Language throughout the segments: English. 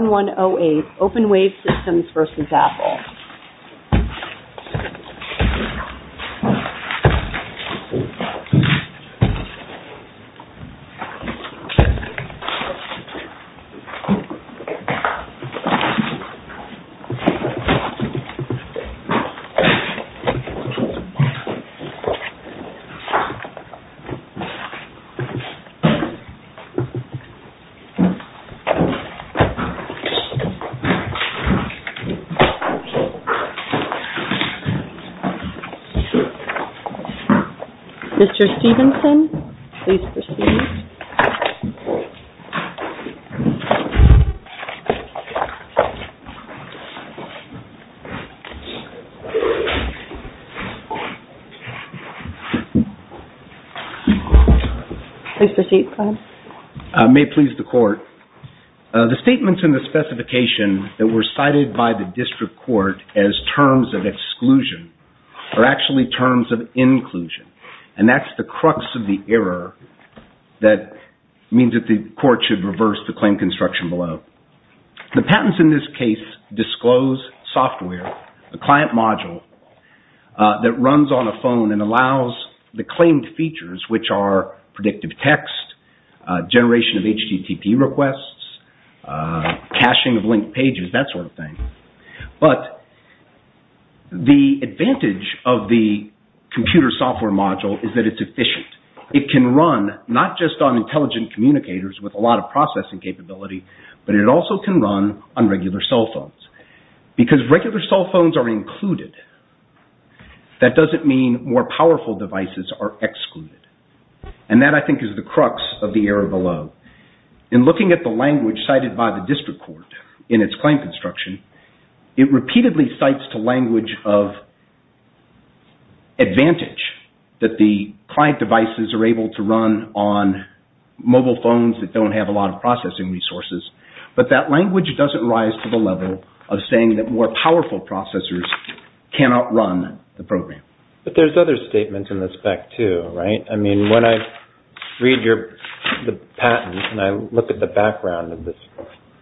OpenWave Systems v. Apple Mr. Stevenson, please proceed. Please proceed, Clyde. The statements in the specification that were cited by the district court as terms of exclusion are actually terms of inclusion, and that's the crux of the error that means that the court should reverse the claim construction below. The patents in this case disclose software, the client module, that runs on a phone and text, generation of HTTP requests, caching of linked pages, that sort of thing. But the advantage of the computer software module is that it's efficient. It can run not just on intelligent communicators with a lot of processing capability, but it also can run on regular cell phones. Because regular cell phones are included, that doesn't mean more powerful devices are excluded, and that, I think, is the crux of the error below. In looking at the language cited by the district court in its claim construction, it repeatedly cites the language of advantage that the client devices are able to run on mobile phones that don't have a lot of processing resources. But that language doesn't rise to the level of saying that more powerful processors cannot run the program. But there's other statements in the spec too, right? I mean, when I read the patents and I look at the background of this,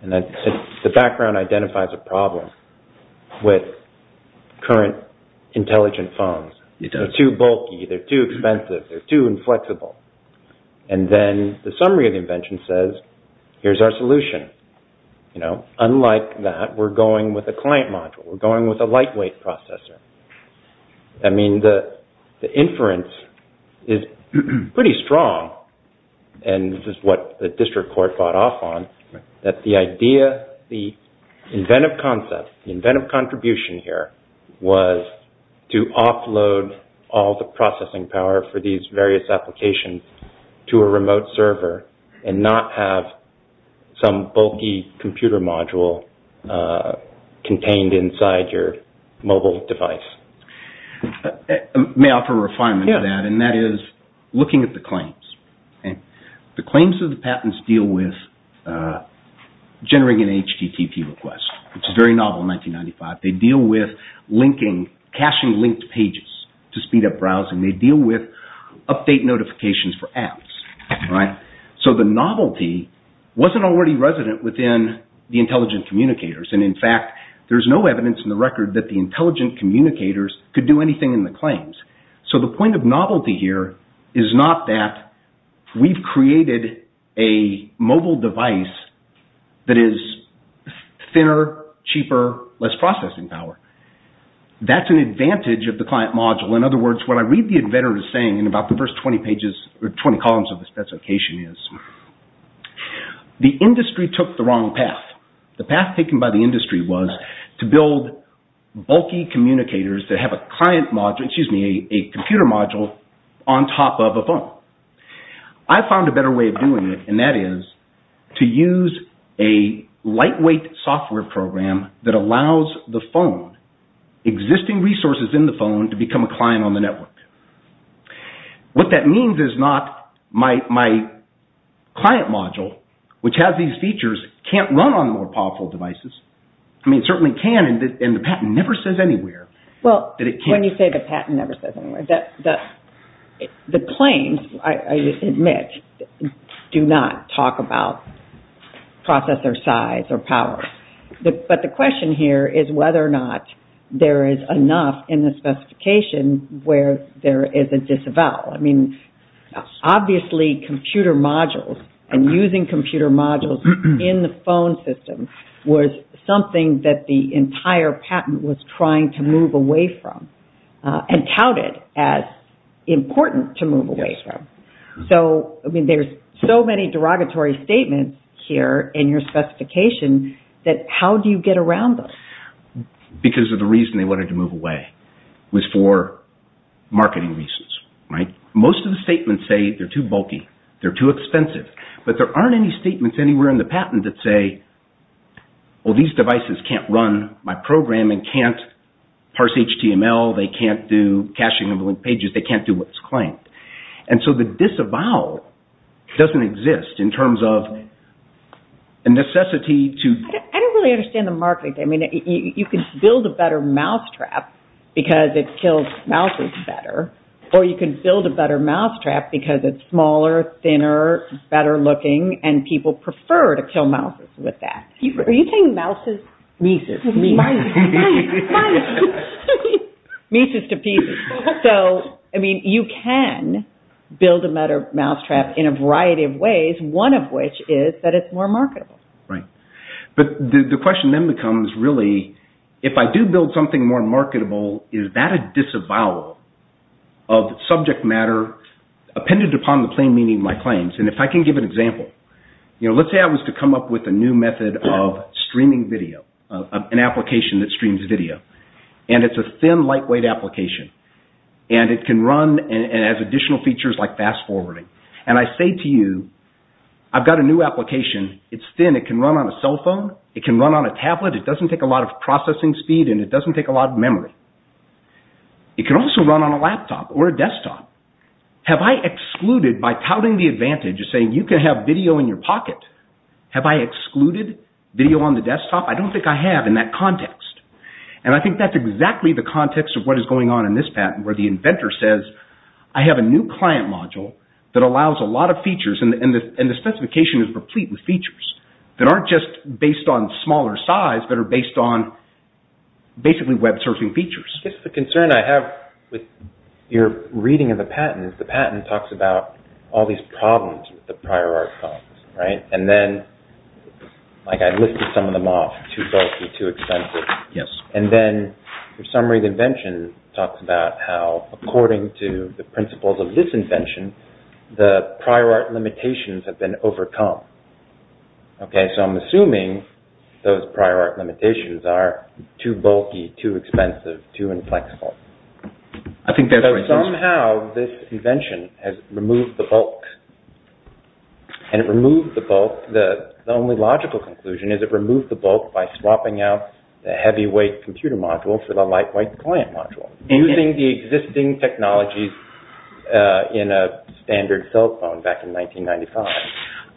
the background identifies a problem with current intelligent phones. They're too bulky. They're too expensive. They're too inflexible. And then the summary of the invention says, here's our solution. Unlike that, we're going with a client module. We're going with a lightweight processor. I mean, the inference is pretty strong, and this is what the district court fought off on, that the idea, the inventive concept, the inventive contribution here was to offload all the processing power for these various applications to a remote server and not have some bulky computer module contained inside your mobile device. May I offer a refinement to that? Yeah. And that is looking at the claims. The claims of the patents deal with generating an HTTP request, which is very novel in 1995. They deal with caching linked pages to speed up browsing. They deal with update notifications for apps, right? So the novelty wasn't already resident within the intelligent communicators. And in fact, there's no evidence in the record that the intelligent communicators could do anything in the claims. So the point of novelty here is not that we've created a mobile device that is thinner, cheaper, less processing power. That's an advantage of the client module. In other words, what I read the inventor as saying in about the first 20 columns of the specification is, the industry took the wrong path. The path taken by the industry was to build bulky communicators that have a client module, I found a better way of doing it, and that is to use a lightweight software program that allows the phone, existing resources in the phone, to become a client on the network. What that means is not my client module, which has these features, can't run on more powerful devices. I mean, it certainly can, and the patent never says anywhere that it can't. When you say the patent never says anywhere, the claims, I admit, do not talk about processor size or power. But the question here is whether or not there is enough in the specification where there is a disavowal. I mean, obviously computer modules and using computer modules in the phone system was something that the entire patent was trying to move away from and touted as important to move away from. So, I mean, there's so many derogatory statements here in your specification that how do you get around them? Because of the reason they wanted to move away was for marketing reasons, right? Most of the statements say they're too bulky, they're too expensive, but there aren't any devices that can't run my program and can't parse HTML, they can't do caching of linked pages, they can't do what's claimed. And so the disavowal doesn't exist in terms of a necessity to... I don't really understand the marketing. I mean, you can build a better mousetrap because it kills mouses better, or you can build a better mousetrap because it's smaller, thinner, better looking, and people prefer to kill mouses with that. Are you saying mouses? Mises. Mises. Mises to pieces. So, I mean, you can build a better mousetrap in a variety of ways, one of which is that it's more marketable. Right. But the question then becomes, really, if I do build something more marketable, is that a disavowal of subject matter appended upon the plain meaning of my claims? And if I can give an example, let's say I was to come up with a new method of streaming video, an application that streams video, and it's a thin lightweight application, and it can run and has additional features like fast forwarding. And I say to you, I've got a new application, it's thin, it can run on a cell phone, it can run on a tablet, it doesn't take a lot of processing speed, and it doesn't take a lot of memory. It can also run on a laptop or a desktop. Have I excluded, by touting the advantage of saying you can have video in your pocket, have I excluded video on the desktop? I don't think I have in that context. And I think that's exactly the context of what is going on in this patent, where the inventor says, I have a new client module that allows a lot of features, and the specification is complete with features that aren't just based on smaller size, but are based on basically web surfing features. I guess the concern I have with your reading of the patent is the patent talks about all these problems with the prior art, right? And then, like I listed some of them off, too bulky, too expensive. Yes. And then your summary of the invention talks about how, according to the principles of this invention, the prior art limitations have been overcome. Okay, so I'm assuming those prior art limitations are too bulky, too expensive, too inflexible. I think that's right. So somehow, this invention has removed the bulk. And it removed the bulk. The only logical conclusion is it removed the bulk by swapping out the heavyweight computer module for the lightweight client module, using the existing technologies in a standard cell phone back in 1995.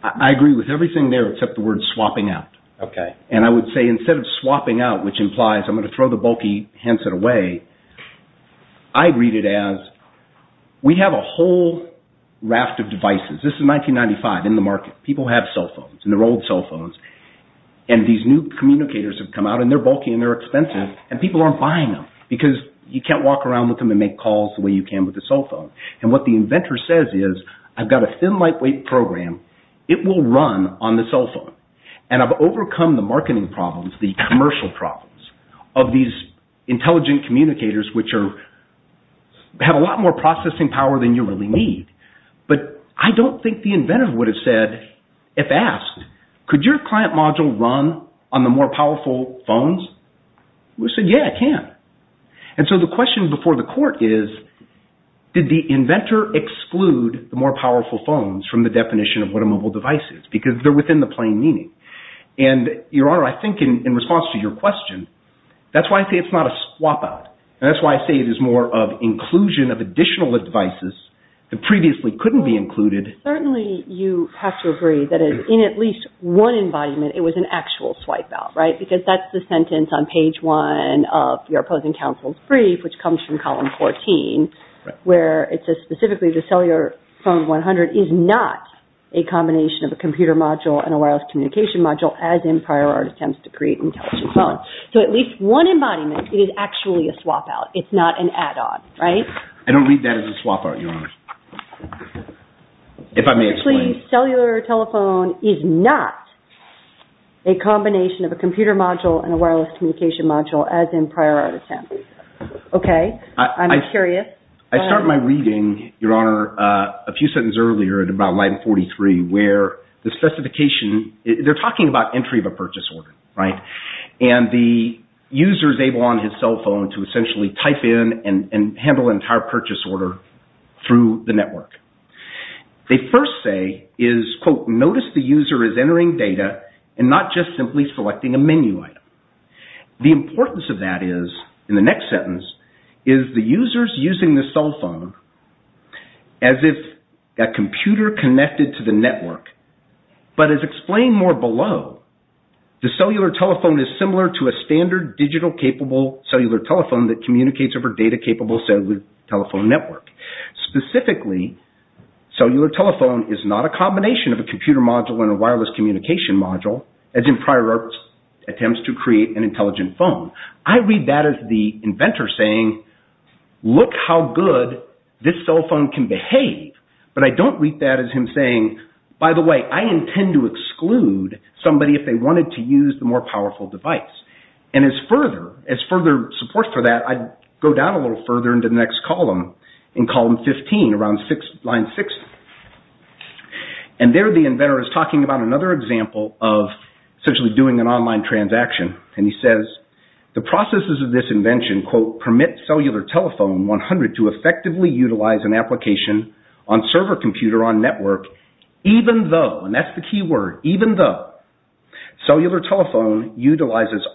I agree with everything there except the word swapping out. Okay. And I would say, instead of swapping out, which implies I'm going to throw the bulky handset away, I'd read it as, we have a whole raft of devices. This is 1995, in the market. People have cell phones, and they're old cell phones, and these new communicators have come out, and they're bulky, and they're expensive, and people aren't buying them, because you can't walk around with them and make calls the way you can with a cell phone. And what the inventor says is, I've got a thin, lightweight program, it will run on the cell phone. And I've overcome the marketing problems, the commercial problems, of these intelligent communicators, which have a lot more processing power than you really need. But I don't think the inventor would have said, if asked, could your client module run on the more powerful phones? He would have said, yeah, it can. And so the question before the court is, did the inventor exclude the more powerful phones from the definition of what a mobile device is? Because they're within the plain meaning. And, Your Honor, I think in response to your question, that's why I say it's not a swap out. And that's why I say it is more of inclusion of additional devices that previously couldn't be included. Certainly, you have to agree that in at least one embodiment, it was an actual swipe out, right? Because that's the sentence on page one of your opposing counsel's brief, which comes from column 14, where it says specifically, the cellular phone 100 is not a combination of a computer module and a wireless communication module, as in prior attempts to create an intelligent phone. So at least one embodiment, it is actually a swap out. It's not an add on, right? I don't read that as a swap out, Your Honor. If I may explain. The cellular telephone is not a combination of a computer module and a wireless communication module, as in prior attempts. Okay? I'm curious. I start my reading, Your Honor, a few sentences earlier in about line 43, where the specification – they're talking about entry of a purchase order, right? And the user is able on his cell phone to essentially type in and handle an entire purchase order through the network. They first say is, quote, notice the user is entering data and not just simply selecting a menu item. The importance of that is, in the next sentence, is the user's using the cell phone as if a computer connected to the network. But as explained more below, the cellular telephone is similar to a standard digital capable cellular telephone that communicates over data capable cellular telephone network. Specifically, cellular telephone is not a combination of a computer module and a wireless communication module, as in prior attempts to create an intelligent phone. I read that as the inventor saying, look how good this cell phone can behave. But I don't read that as him saying, by the way, I intend to exclude somebody if they wanted to use the more powerful device. And as further support for that, I go down a little further into the next column, in column 15, around line 6. And there the inventor is talking about another example of essentially doing an online transaction. And he says, the processes of this invention, quote, permit cellular telephone 100 to effectively utilize an application on server computer on network, even though – and that's the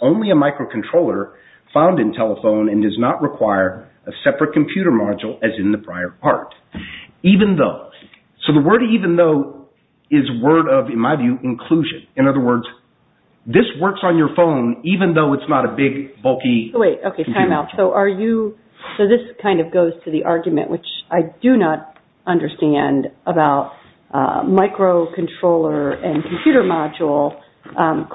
only a microcontroller found in telephone and does not require a separate computer module, as in the prior part. Even though. So the word even though is word of, in my view, inclusion. In other words, this works on your phone, even though it's not a big bulky computer module. Wait, okay, time out. So are you – so this kind of goes to the argument, which I do not understand, about microcontroller and computer module.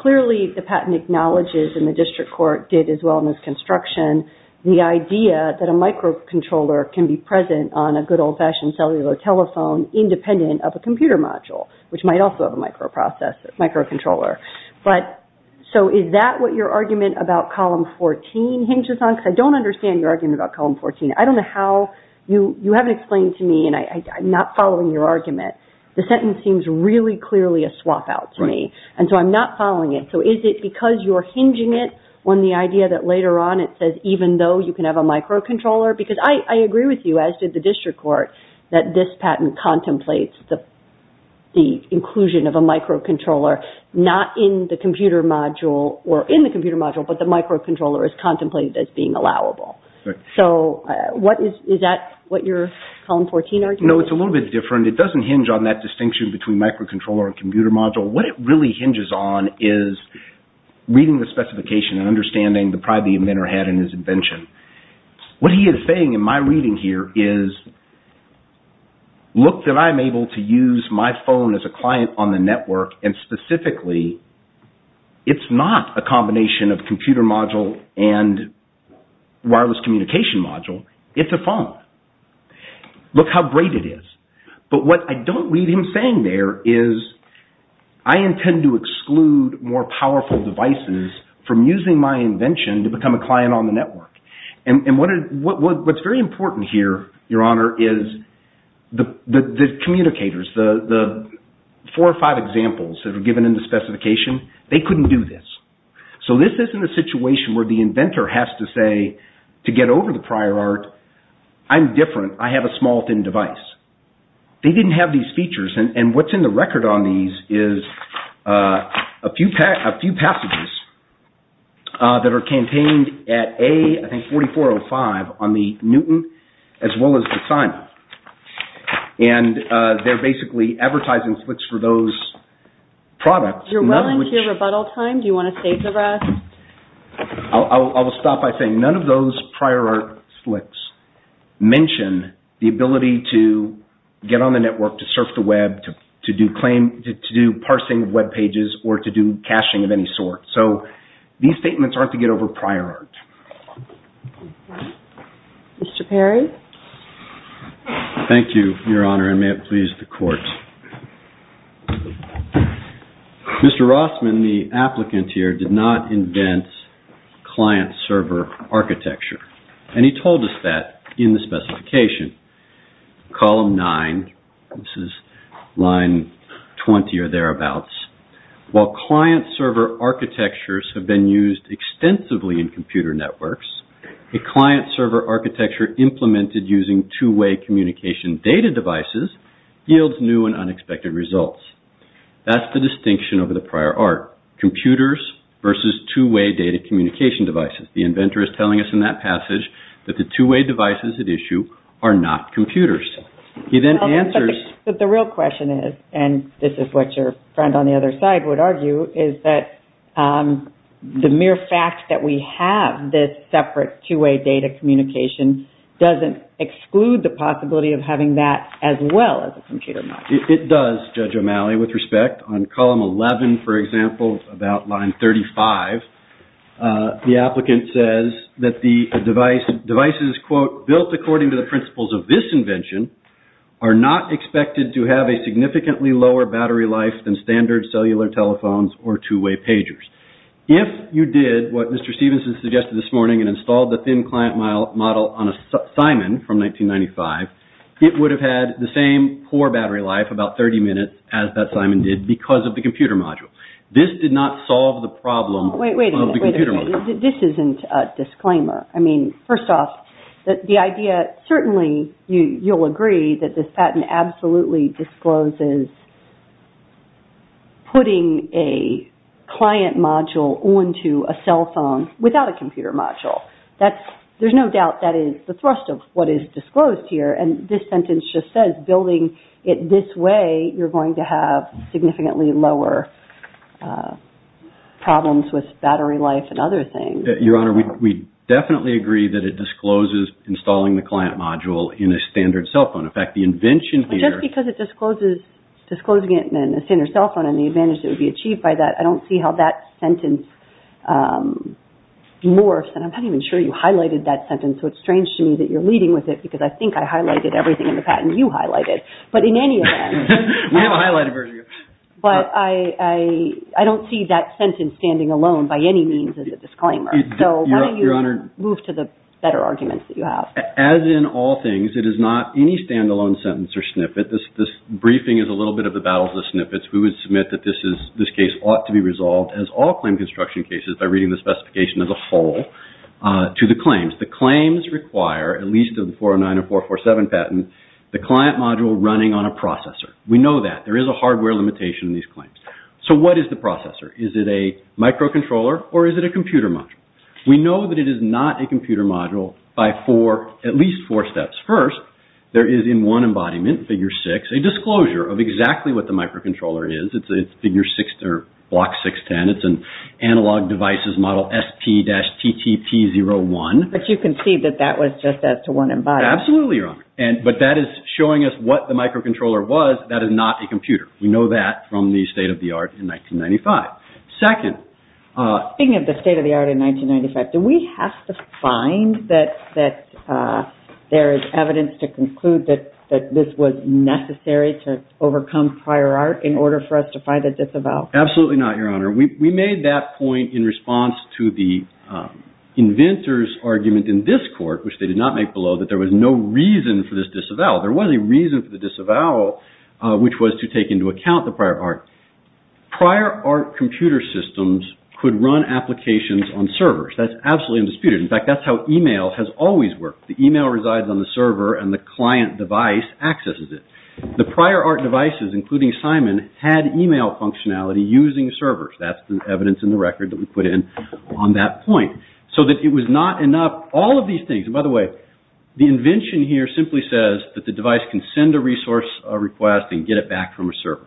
Clearly the patent acknowledges, and the district court did as well in this construction, the idea that a microcontroller can be present on a good old-fashioned cellular telephone independent of a computer module, which might also have a microcontroller. But so is that what your argument about column 14 hinges on? Because I don't understand your argument about column 14. I don't know how – you haven't explained to me, and I'm not following your argument. The sentence seems really clearly a swap out to me. Right. And so I'm not following it. So is it because you're hinging it on the idea that later on it says even though you can have a microcontroller? Because I agree with you, as did the district court, that this patent contemplates the inclusion of a microcontroller not in the computer module or in the computer module, but the microcontroller is contemplated as being allowable. Right. So what is – is that what your column 14 argument is? No, it's a little bit different. It doesn't hinge on that distinction between microcontroller and computer module. What it really hinges on is reading the specification and understanding the pride the inventor had in his invention. What he is saying in my reading here is look that I'm able to use my phone as a client on the network, and specifically, it's not a combination of computer module and wireless communication module. It's a phone. Look how great it is. But what I don't read him saying there is I intend to exclude more powerful devices from using my invention to become a client on the network. And what's very important here, your honor, is the communicators, the four or five examples that are given in the specification, they couldn't do this. So this isn't a situation where the inventor has to say to get over the prior art, I'm They didn't have these features. And what's in the record on these is a few passages that are campaigned at A, I think, 4405 on the Newton as well as the Simon. And they're basically advertising slicks for those products. You're well into your rebuttal time. Do you want to save the rest? I will stop by saying none of those prior art slicks mention the ability to get on the network, to surf the web, to do parsing of web pages, or to do caching of any sort. So these statements aren't to get over prior art. Mr. Perry? Thank you, your honor, and may it please the court. Mr. Rossman, the applicant here did not invent client server architecture. And he told us that in the specification column nine. This is line 20 or thereabouts. While client server architectures have been used extensively in computer networks, a client server architecture implemented using two way communication data devices yields new and unexpected results. That's the distinction over the prior art. Computers versus two way data communication devices. The inventor is telling us in that passage that the two way devices at issue are not computers. He then answers. But the real question is, and this is what your friend on the other side would argue, is that the mere fact that we have this separate two way data communication doesn't exclude the possibility of having that as well as a computer. It does, Judge O'Malley, with respect. On column 11, for example, about line 35, the applicant says that the devices, quote, built according to the principles of this invention, are not expected to have a significantly lower battery life than standard cellular telephones or two way pagers. If you did what Mr. Stevenson suggested this morning and installed the thin client model on a Simon from 1995, it would have had the same poor battery life, about 30 minutes, as that Simon did because of the computer module. This did not solve the problem of the computer module. Wait, wait a minute. This isn't a disclaimer. I mean, first off, the idea, certainly you'll agree that this patent absolutely discloses putting a client module onto a cell phone without a computer module. There's no doubt that is the thrust of what is disclosed here. And this sentence just says building it this way, you're going to have significantly lower problems with battery life and other things. Your Honor, we definitely agree that it discloses installing the client module in a standard cell phone. In fact, the invention here... Just because it discloses disclosing it in a standard cell phone and the advantage that would be achieved by that, I don't see how that sentence morphs. And I'm not even sure you highlighted that sentence, so it's strange to me that you're leading with it because I think I highlighted everything in the patent you highlighted. But in any event... We have a highlighted version here. But I don't see that sentence standing alone by any means as a disclaimer. So why don't you move to the better arguments that you have. As in all things, it is not any stand-alone sentence or snippet. This briefing is a little bit of the battles of snippets. We would submit that this case ought to be resolved as all claim construction cases by reading the specification as a whole to the claims. The claims require, at least in the 409 and 447 patent, the client module running on a processor. We know that. There is a hardware limitation in these claims. So what is the processor? Is it a microcontroller or is it a computer module? We know that it is not a computer module by at least four steps. First, there is in one embodiment, figure six, a disclosure of exactly what the microcontroller is. It's block 610. It's an analog devices model SP-TTT01. But you can see that that was just as to one embodiment. Absolutely, Your Honor. But that is showing us what the microcontroller was. That is not a computer. We know that from the state of the art in 1995. Second. Speaking of the state of the art in 1995, do we have to find that there is evidence to conclude that this was necessary to overcome prior art in order for us to find a disavowal? Absolutely not, Your Honor. We made that point in response to the inventors argument in this court, which they did not make below that there was no reason for this disavowal. There was a reason for the disavowal, which was to take into account the prior art. Prior art computer systems could run applications on servers. That's absolutely undisputed. In fact, that's how email has always worked. The email resides on the server and the client device accesses it. The prior art devices, including Simon, had email functionality using servers. That's the evidence in the record that we put in on that point so that it was not enough. All of these things, by the way, the invention here simply says that the device can send a resource request and get it back from a server.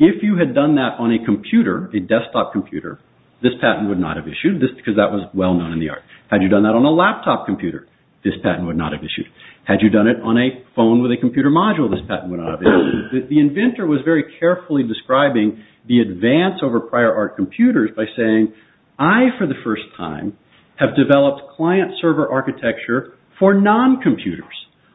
If you had done that on a computer, a desktop computer, this patent would not have issued this because that was well known in the art. Had you done that on a laptop computer, this patent would not have issued. Had you done it on a phone with a computer module, this patent would not have issued. The inventor was very carefully describing the advance over prior art computers by saying, I, for the first time, have developed client server architecture for non-computers.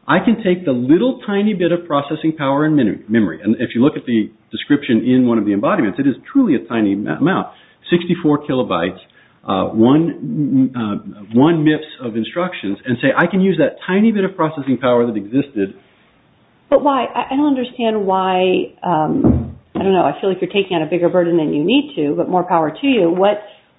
I can take the little tiny bit of processing power and memory. And if you look at the description in one of the embodiments, it is truly a tiny amount. 64 kilobytes, one MIPS of instructions, and say I can use that tiny bit of processing power that existed. But why? I don't understand why, I don't know, I feel like you're taking on a bigger burden than you need to, but more power to you.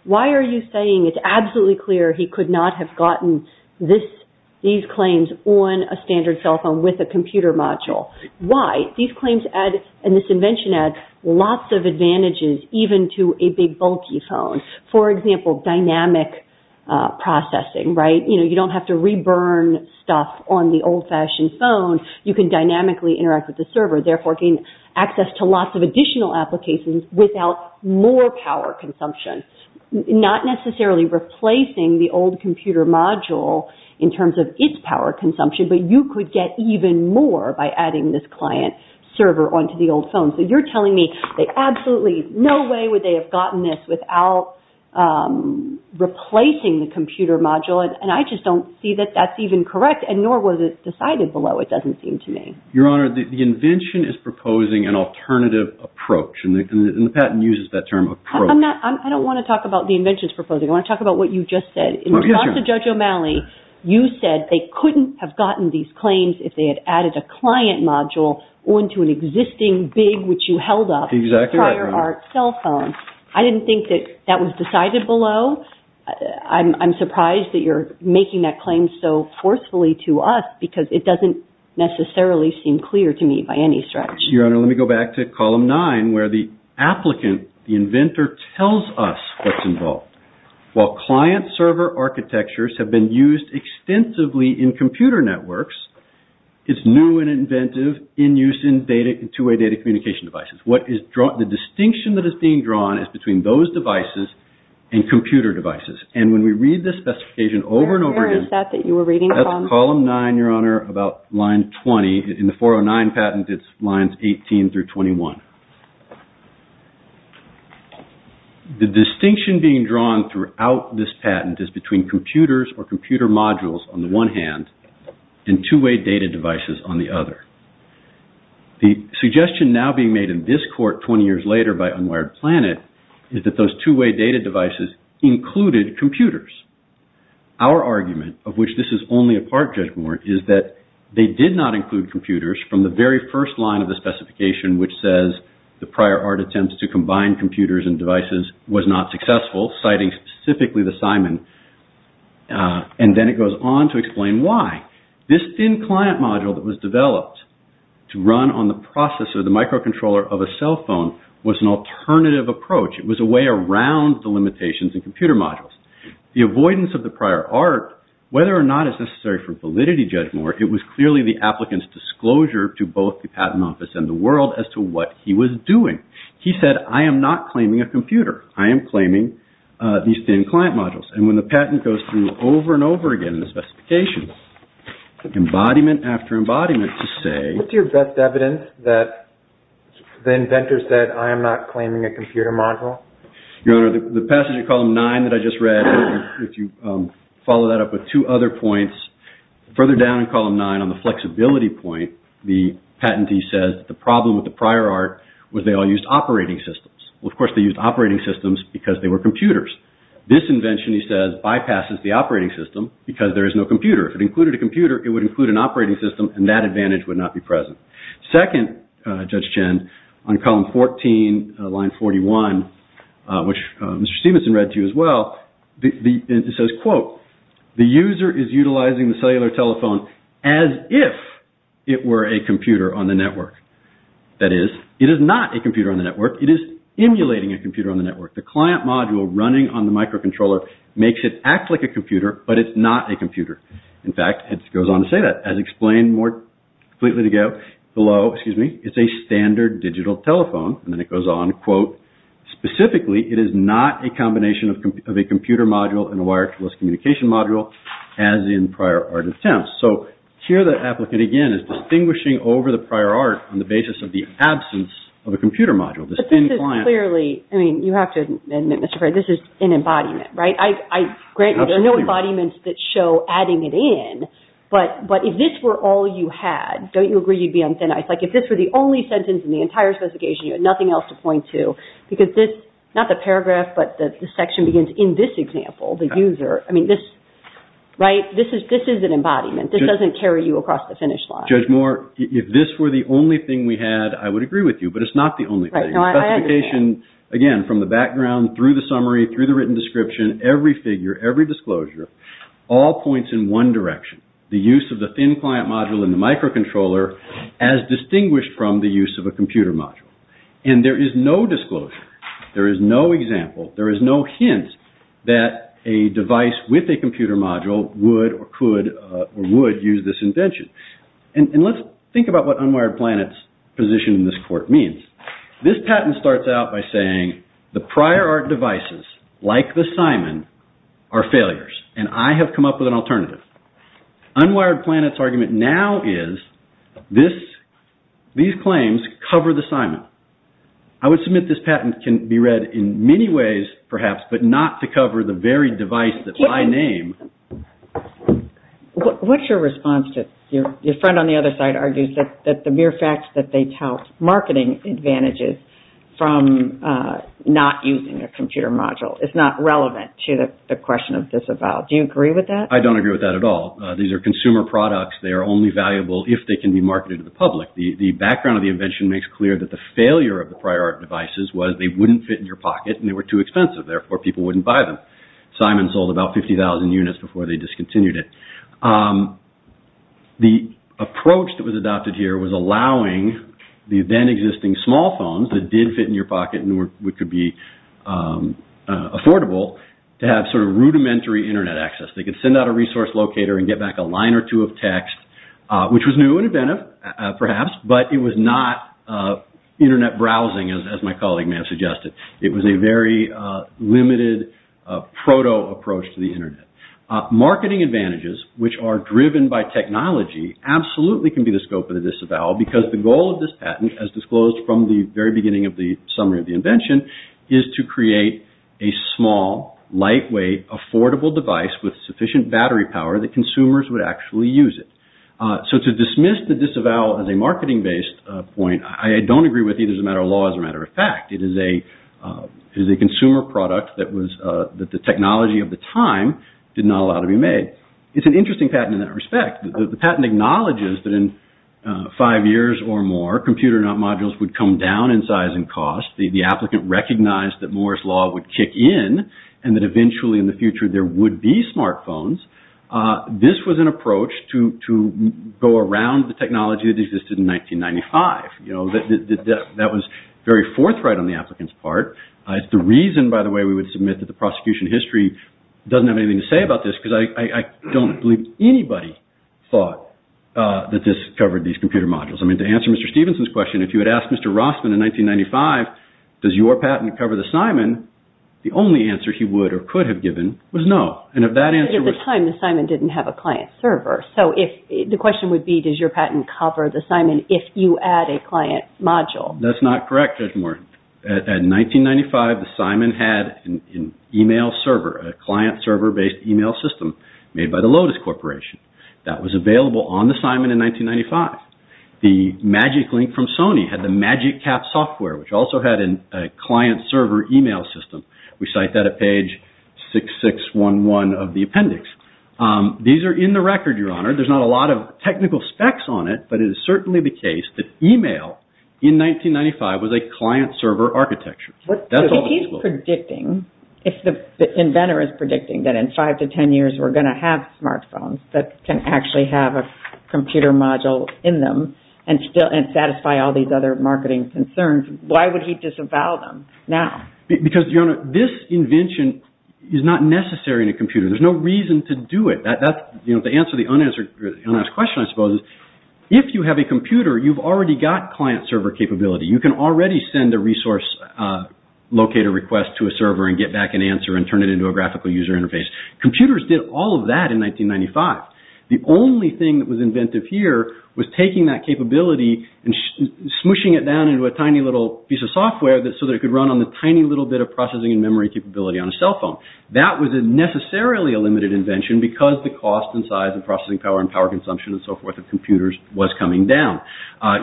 Why are you saying it's absolutely clear he could not have gotten these claims on a standard cell phone with a computer module? Why? These claims and this invention add lots of advantages even to a big, bulky phone. For example, dynamic processing, right? You don't have to re-burn stuff on the old-fashioned phone. You can dynamically interact with the server, therefore gain access to lots of additional applications without more power consumption. Not necessarily replacing the old computer module in terms of its power consumption, but you could get even more by adding this client server onto the old phone. So you're telling me there's absolutely no way they would have gotten this without replacing the computer module, and I just don't see that that's even correct, and nor was it decided below, it doesn't seem to me. Your Honor, the invention is proposing an alternative approach, and the patent uses that term, approach. I don't want to talk about the invention's proposal, I want to talk about what you just said. In response to Judge O'Malley, you said they couldn't have gotten these claims if they had added a client module onto an existing, big, which you held up, prior art cell phone. I didn't think that that was decided below. I'm surprised that you're making that claim so forcefully to us, because it doesn't necessarily seem clear to me by any stretch. Your Honor, let me go back to Column 9, where the applicant, the inventor, tells us what's involved. While client server architectures have been used extensively in computer networks, it's new and inventive in use in two-way data communication devices. The distinction that is being drawn is between those devices and computer devices, and when we read this specification over and over again, that's Column 9, Your Honor, about line 20. In the 409 patent, it's lines 18 through 21. The distinction being drawn throughout this patent is between computers or computer modules on the one hand and two-way data devices on the other. The suggestion now being made in this court 20 years later by Unwired Planet is that those two-way data devices included computers. Our argument, of which this is only a part, Judge Moore, is that they did not include computers from the very first line of the specification, which says the prior art attempts to combine computers and devices was not successful, citing specifically the Simon. And then it goes on to explain why. This thin client module that was developed to run on the processor, the microcontroller of a cell phone, was an alternative approach. It was a way around the limitations in computer modules. The avoidance of the prior art, whether or not it's necessary for validity, Judge Moore, it was clearly the applicant's disclosure to both the patent office and the world as to what he was doing. He said, I am not claiming a computer. I am claiming these thin client modules. And when the patent goes through over and over again in the specification, embodiment after embodiment to say... What's your best evidence that the inventor said, I am not claiming a computer module? Your Honor, the passage of Column 9 that I just read, if you follow that up with two other points, further down in Column 9 on the flexibility point, the patentee says the problem with the prior art was they all used operating systems. Well, of course, they used operating systems because they were computers. This invention, he says, bypasses the operating system because there is no computer. If it included a computer, it would include an operating system, and that advantage would not be present. Second, Judge Chen, on Column 14, Line 41, which Mr. Stevenson read to you as well, it says, quote, the user is utilizing the cellular telephone as if it were a computer on the network. That is, it is not a computer on the network. It is emulating a computer on the network. The client module running on the microcontroller makes it act like a computer, but it's not a computer. In fact, it goes on to say that, as explained more completely to go below. Excuse me. It's a standard digital telephone. And then it goes on, quote, specifically, it is not a combination of a computer module and a wireless communication module, as in prior art attempts. So here the applicant, again, is distinguishing over the prior art on the basis of the absence of a computer module. But this is clearly, I mean, you have to admit, Mr. Frey, this is an embodiment, right? I grant you there are no embodiments that show adding it in, but if this were all you had, don't you agree you'd be on thin ice? Like, if this were the only sentence in the entire specification, you had nothing else to point to. Because this, not the paragraph, but the section begins, in this example, the user, I mean, this, right? This is an embodiment. This doesn't carry you across the finish line. Judge Moore, if this were the only thing we had, I would agree with you, but it's not the only thing. The specification, again, from the background, through the summary, through the written description, every figure, every disclosure, all points in one direction. The use of the thin client module in the microcontroller as distinguished from the use of a computer module. And there is no disclosure. There is no example. There is no hint that a device with a computer module would or could or would use this invention. And let's think about what Unwired Planet's position in this court means. This patent starts out by saying the prior art devices, like the Simon, are failures. And I have come up with an alternative. Unwired Planet's argument now is these claims cover the Simon. I would submit this patent can be read in many ways, perhaps, but not to cover the very device that I name. What's your response to, your friend on the other side argues that the mere fact that they tout marketing advantages from not using a computer module is not relevant to the question of disavowal. Do you agree with that? I don't agree with that at all. These are consumer products. They are only valuable if they can be marketed to the public. The background of the invention makes clear that the failure of the prior art devices was they wouldn't fit in your pocket and they were too expensive. Therefore, people wouldn't buy them. Simon sold about 50,000 units before they discontinued it. The approach that was adopted here was allowing the then existing small phones that did fit in your pocket and could be affordable to have sort of rudimentary Internet access. They could send out a resource locator and get back a line or two of text, which was new and inventive, perhaps, but it was not Internet browsing as my colleague may have suggested. It was a very limited proto approach to the Internet. Marketing advantages, which are driven by technology, absolutely can be the scope of the disavowal because the goal of this patent, as disclosed from the very beginning of the summary of the invention, is to create a small, lightweight, affordable device with sufficient battery power that consumers would actually use it. So to dismiss the disavowal as a marketing-based point, I don't agree with either as a matter of law or as a matter of fact. It is a consumer product that the technology of the time did not allow to be made. It's an interesting patent in that respect. The patent acknowledges that in five years or more, computer modules would come down in size and cost. The applicant recognized that Moore's Law would kick in and that eventually in the future there would be smart phones. This was an approach to go around the technology that existed in 1995. That was very forthright on the applicant's part. It's the reason, by the way, we would submit that the prosecution history doesn't have anything to say about this because I don't believe anybody thought that this covered these computer modules. To answer Mr. Stevenson's question, if you had asked Mr. Rossman in 1995, does your patent cover the Simon, the only answer he would or could have given was no. At the time, the Simon didn't have a client server. The question would be, does your patent cover the Simon if you add a client module? That's not correct, Judge Moore. In 1995, the Simon had an email server, a client server-based email system made by the Lotus Corporation. That was available on the Simon in 1995. The Magic Link from Sony had the Magic Cap software, which also had a client server email system. We cite that at page 6611 of the appendix. These are in the record, Your Honor. There's not a lot of technical specs on it, but it is certainly the case that email in 1995 was a client server architecture. If the inventor is predicting that in five to ten years we're going to have smartphones that can actually have a computer module in them and satisfy all these other marketing concerns, why would he disavow them now? Because, Your Honor, this invention is not necessary in a computer. There's no reason to do it. The answer to the unasked question, I suppose, is if you have a computer, you've already got client server capability. You can already send a resource locator request to a server and get back an answer and turn it into a graphical user interface. Computers did all of that in 1995. The only thing that was inventive here was taking that capability and smooshing it down into a tiny little piece of software so that it could run on the tiny little bit of processing and memory capability on a cell phone. That was necessarily a limited invention because the cost and size and processing power and power consumption and so forth of computers was coming down.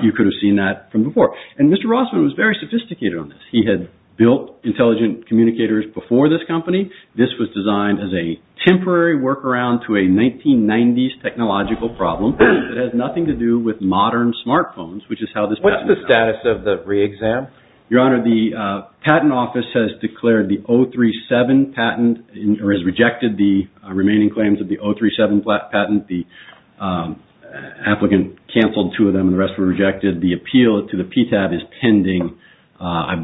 You could have seen that from before. And Mr. Rossman was very sophisticated on this. He had built intelligent communicators before this company. This was designed as a temporary workaround to a 1990s technological problem that has nothing to do with modern smartphones, which is how this patent office came about. What's the status of the re-exam? Your Honor, the patent office has declared the 037 patent or has rejected the remaining claims of the 037 patent. The applicant canceled two of them and the rest were rejected. The appeal to the PTAB is pending. I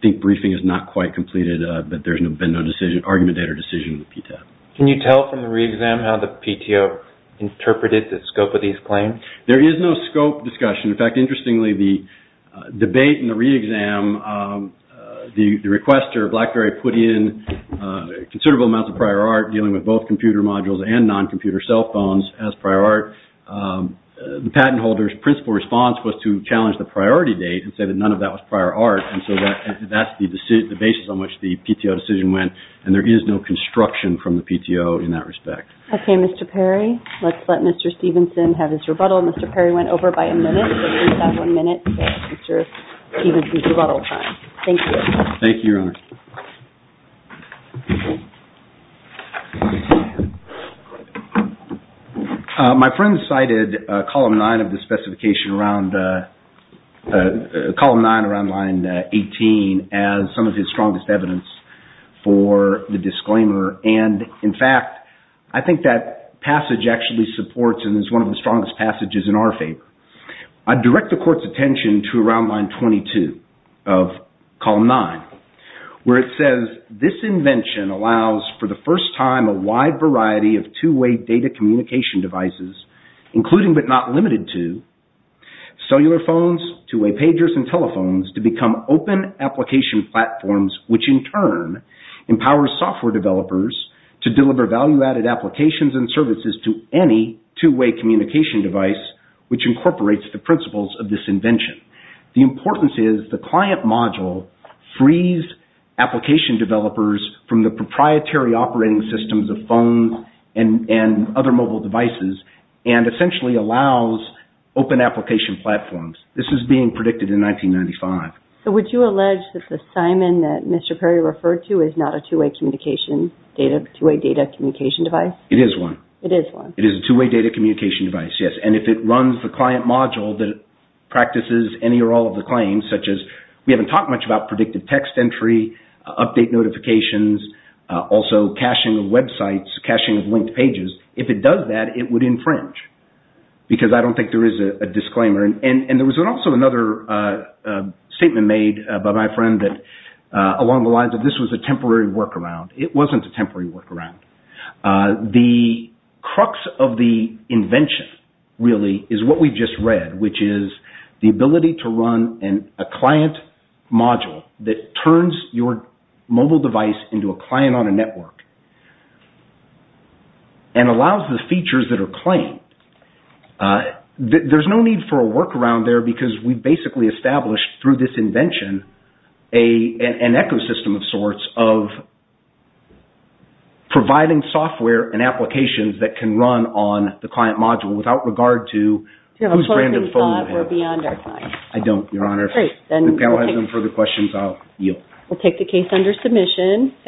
think briefing is not quite completed, but there's been no argument or decision in the PTAB. Can you tell from the re-exam how the PTO interpreted the scope of these claims? There is no scope discussion. In fact, interestingly, the debate in the re-exam, the requester, Blackberry, put in considerable amounts of prior art dealing with both computer modules and non-computer cell phones as prior art. The patent holder's principle response was to challenge the priority date and say that none of that was prior art, and so that's the basis on which the PTO decision went, and there is no construction from the PTO in that respect. Okay, Mr. Perry, let's let Mr. Stevenson have his rebuttal. Mr. Perry went over by a minute, so please have one minute for Mr. Stevenson's rebuttal time. Thank you. Thank you, Your Honor. My friend cited column nine of the specification around line 18 and, in fact, I think that passage actually supports and is one of the strongest passages in our favor. I direct the Court's attention to around line 22 of column nine, where it says, to deliver value-added applications and services to any two-way communication device, which incorporates the principles of this invention. The importance is the client module frees application developers from the proprietary operating systems of phones and other mobile devices and essentially allows open application platforms. This is being predicted in 1995. So would you allege that the Simon that Mr. Perry referred to is not a two-way data communication device? It is one. It is one. It is a two-way data communication device, yes, and if it runs the client module that practices any or all of the claims, such as we haven't talked much about predictive text entry, update notifications, also caching of websites, caching of linked pages, if it does that, it would infringe, because I don't think there is a disclaimer. And there was also another statement made by my friend that along the lines of this was a temporary workaround. It wasn't a temporary workaround. The crux of the invention, really, is what we just read, which is the ability to run a client module that turns your mobile device into a client on a network and allows the features that are claimed. There is no need for a workaround there because we basically established through this invention an ecosystem of sorts of providing software and applications that can run on the client module without regard to who is granted the phone. I don't, Your Honor. If the panel has no further questions, I will yield. We will take the case under submission.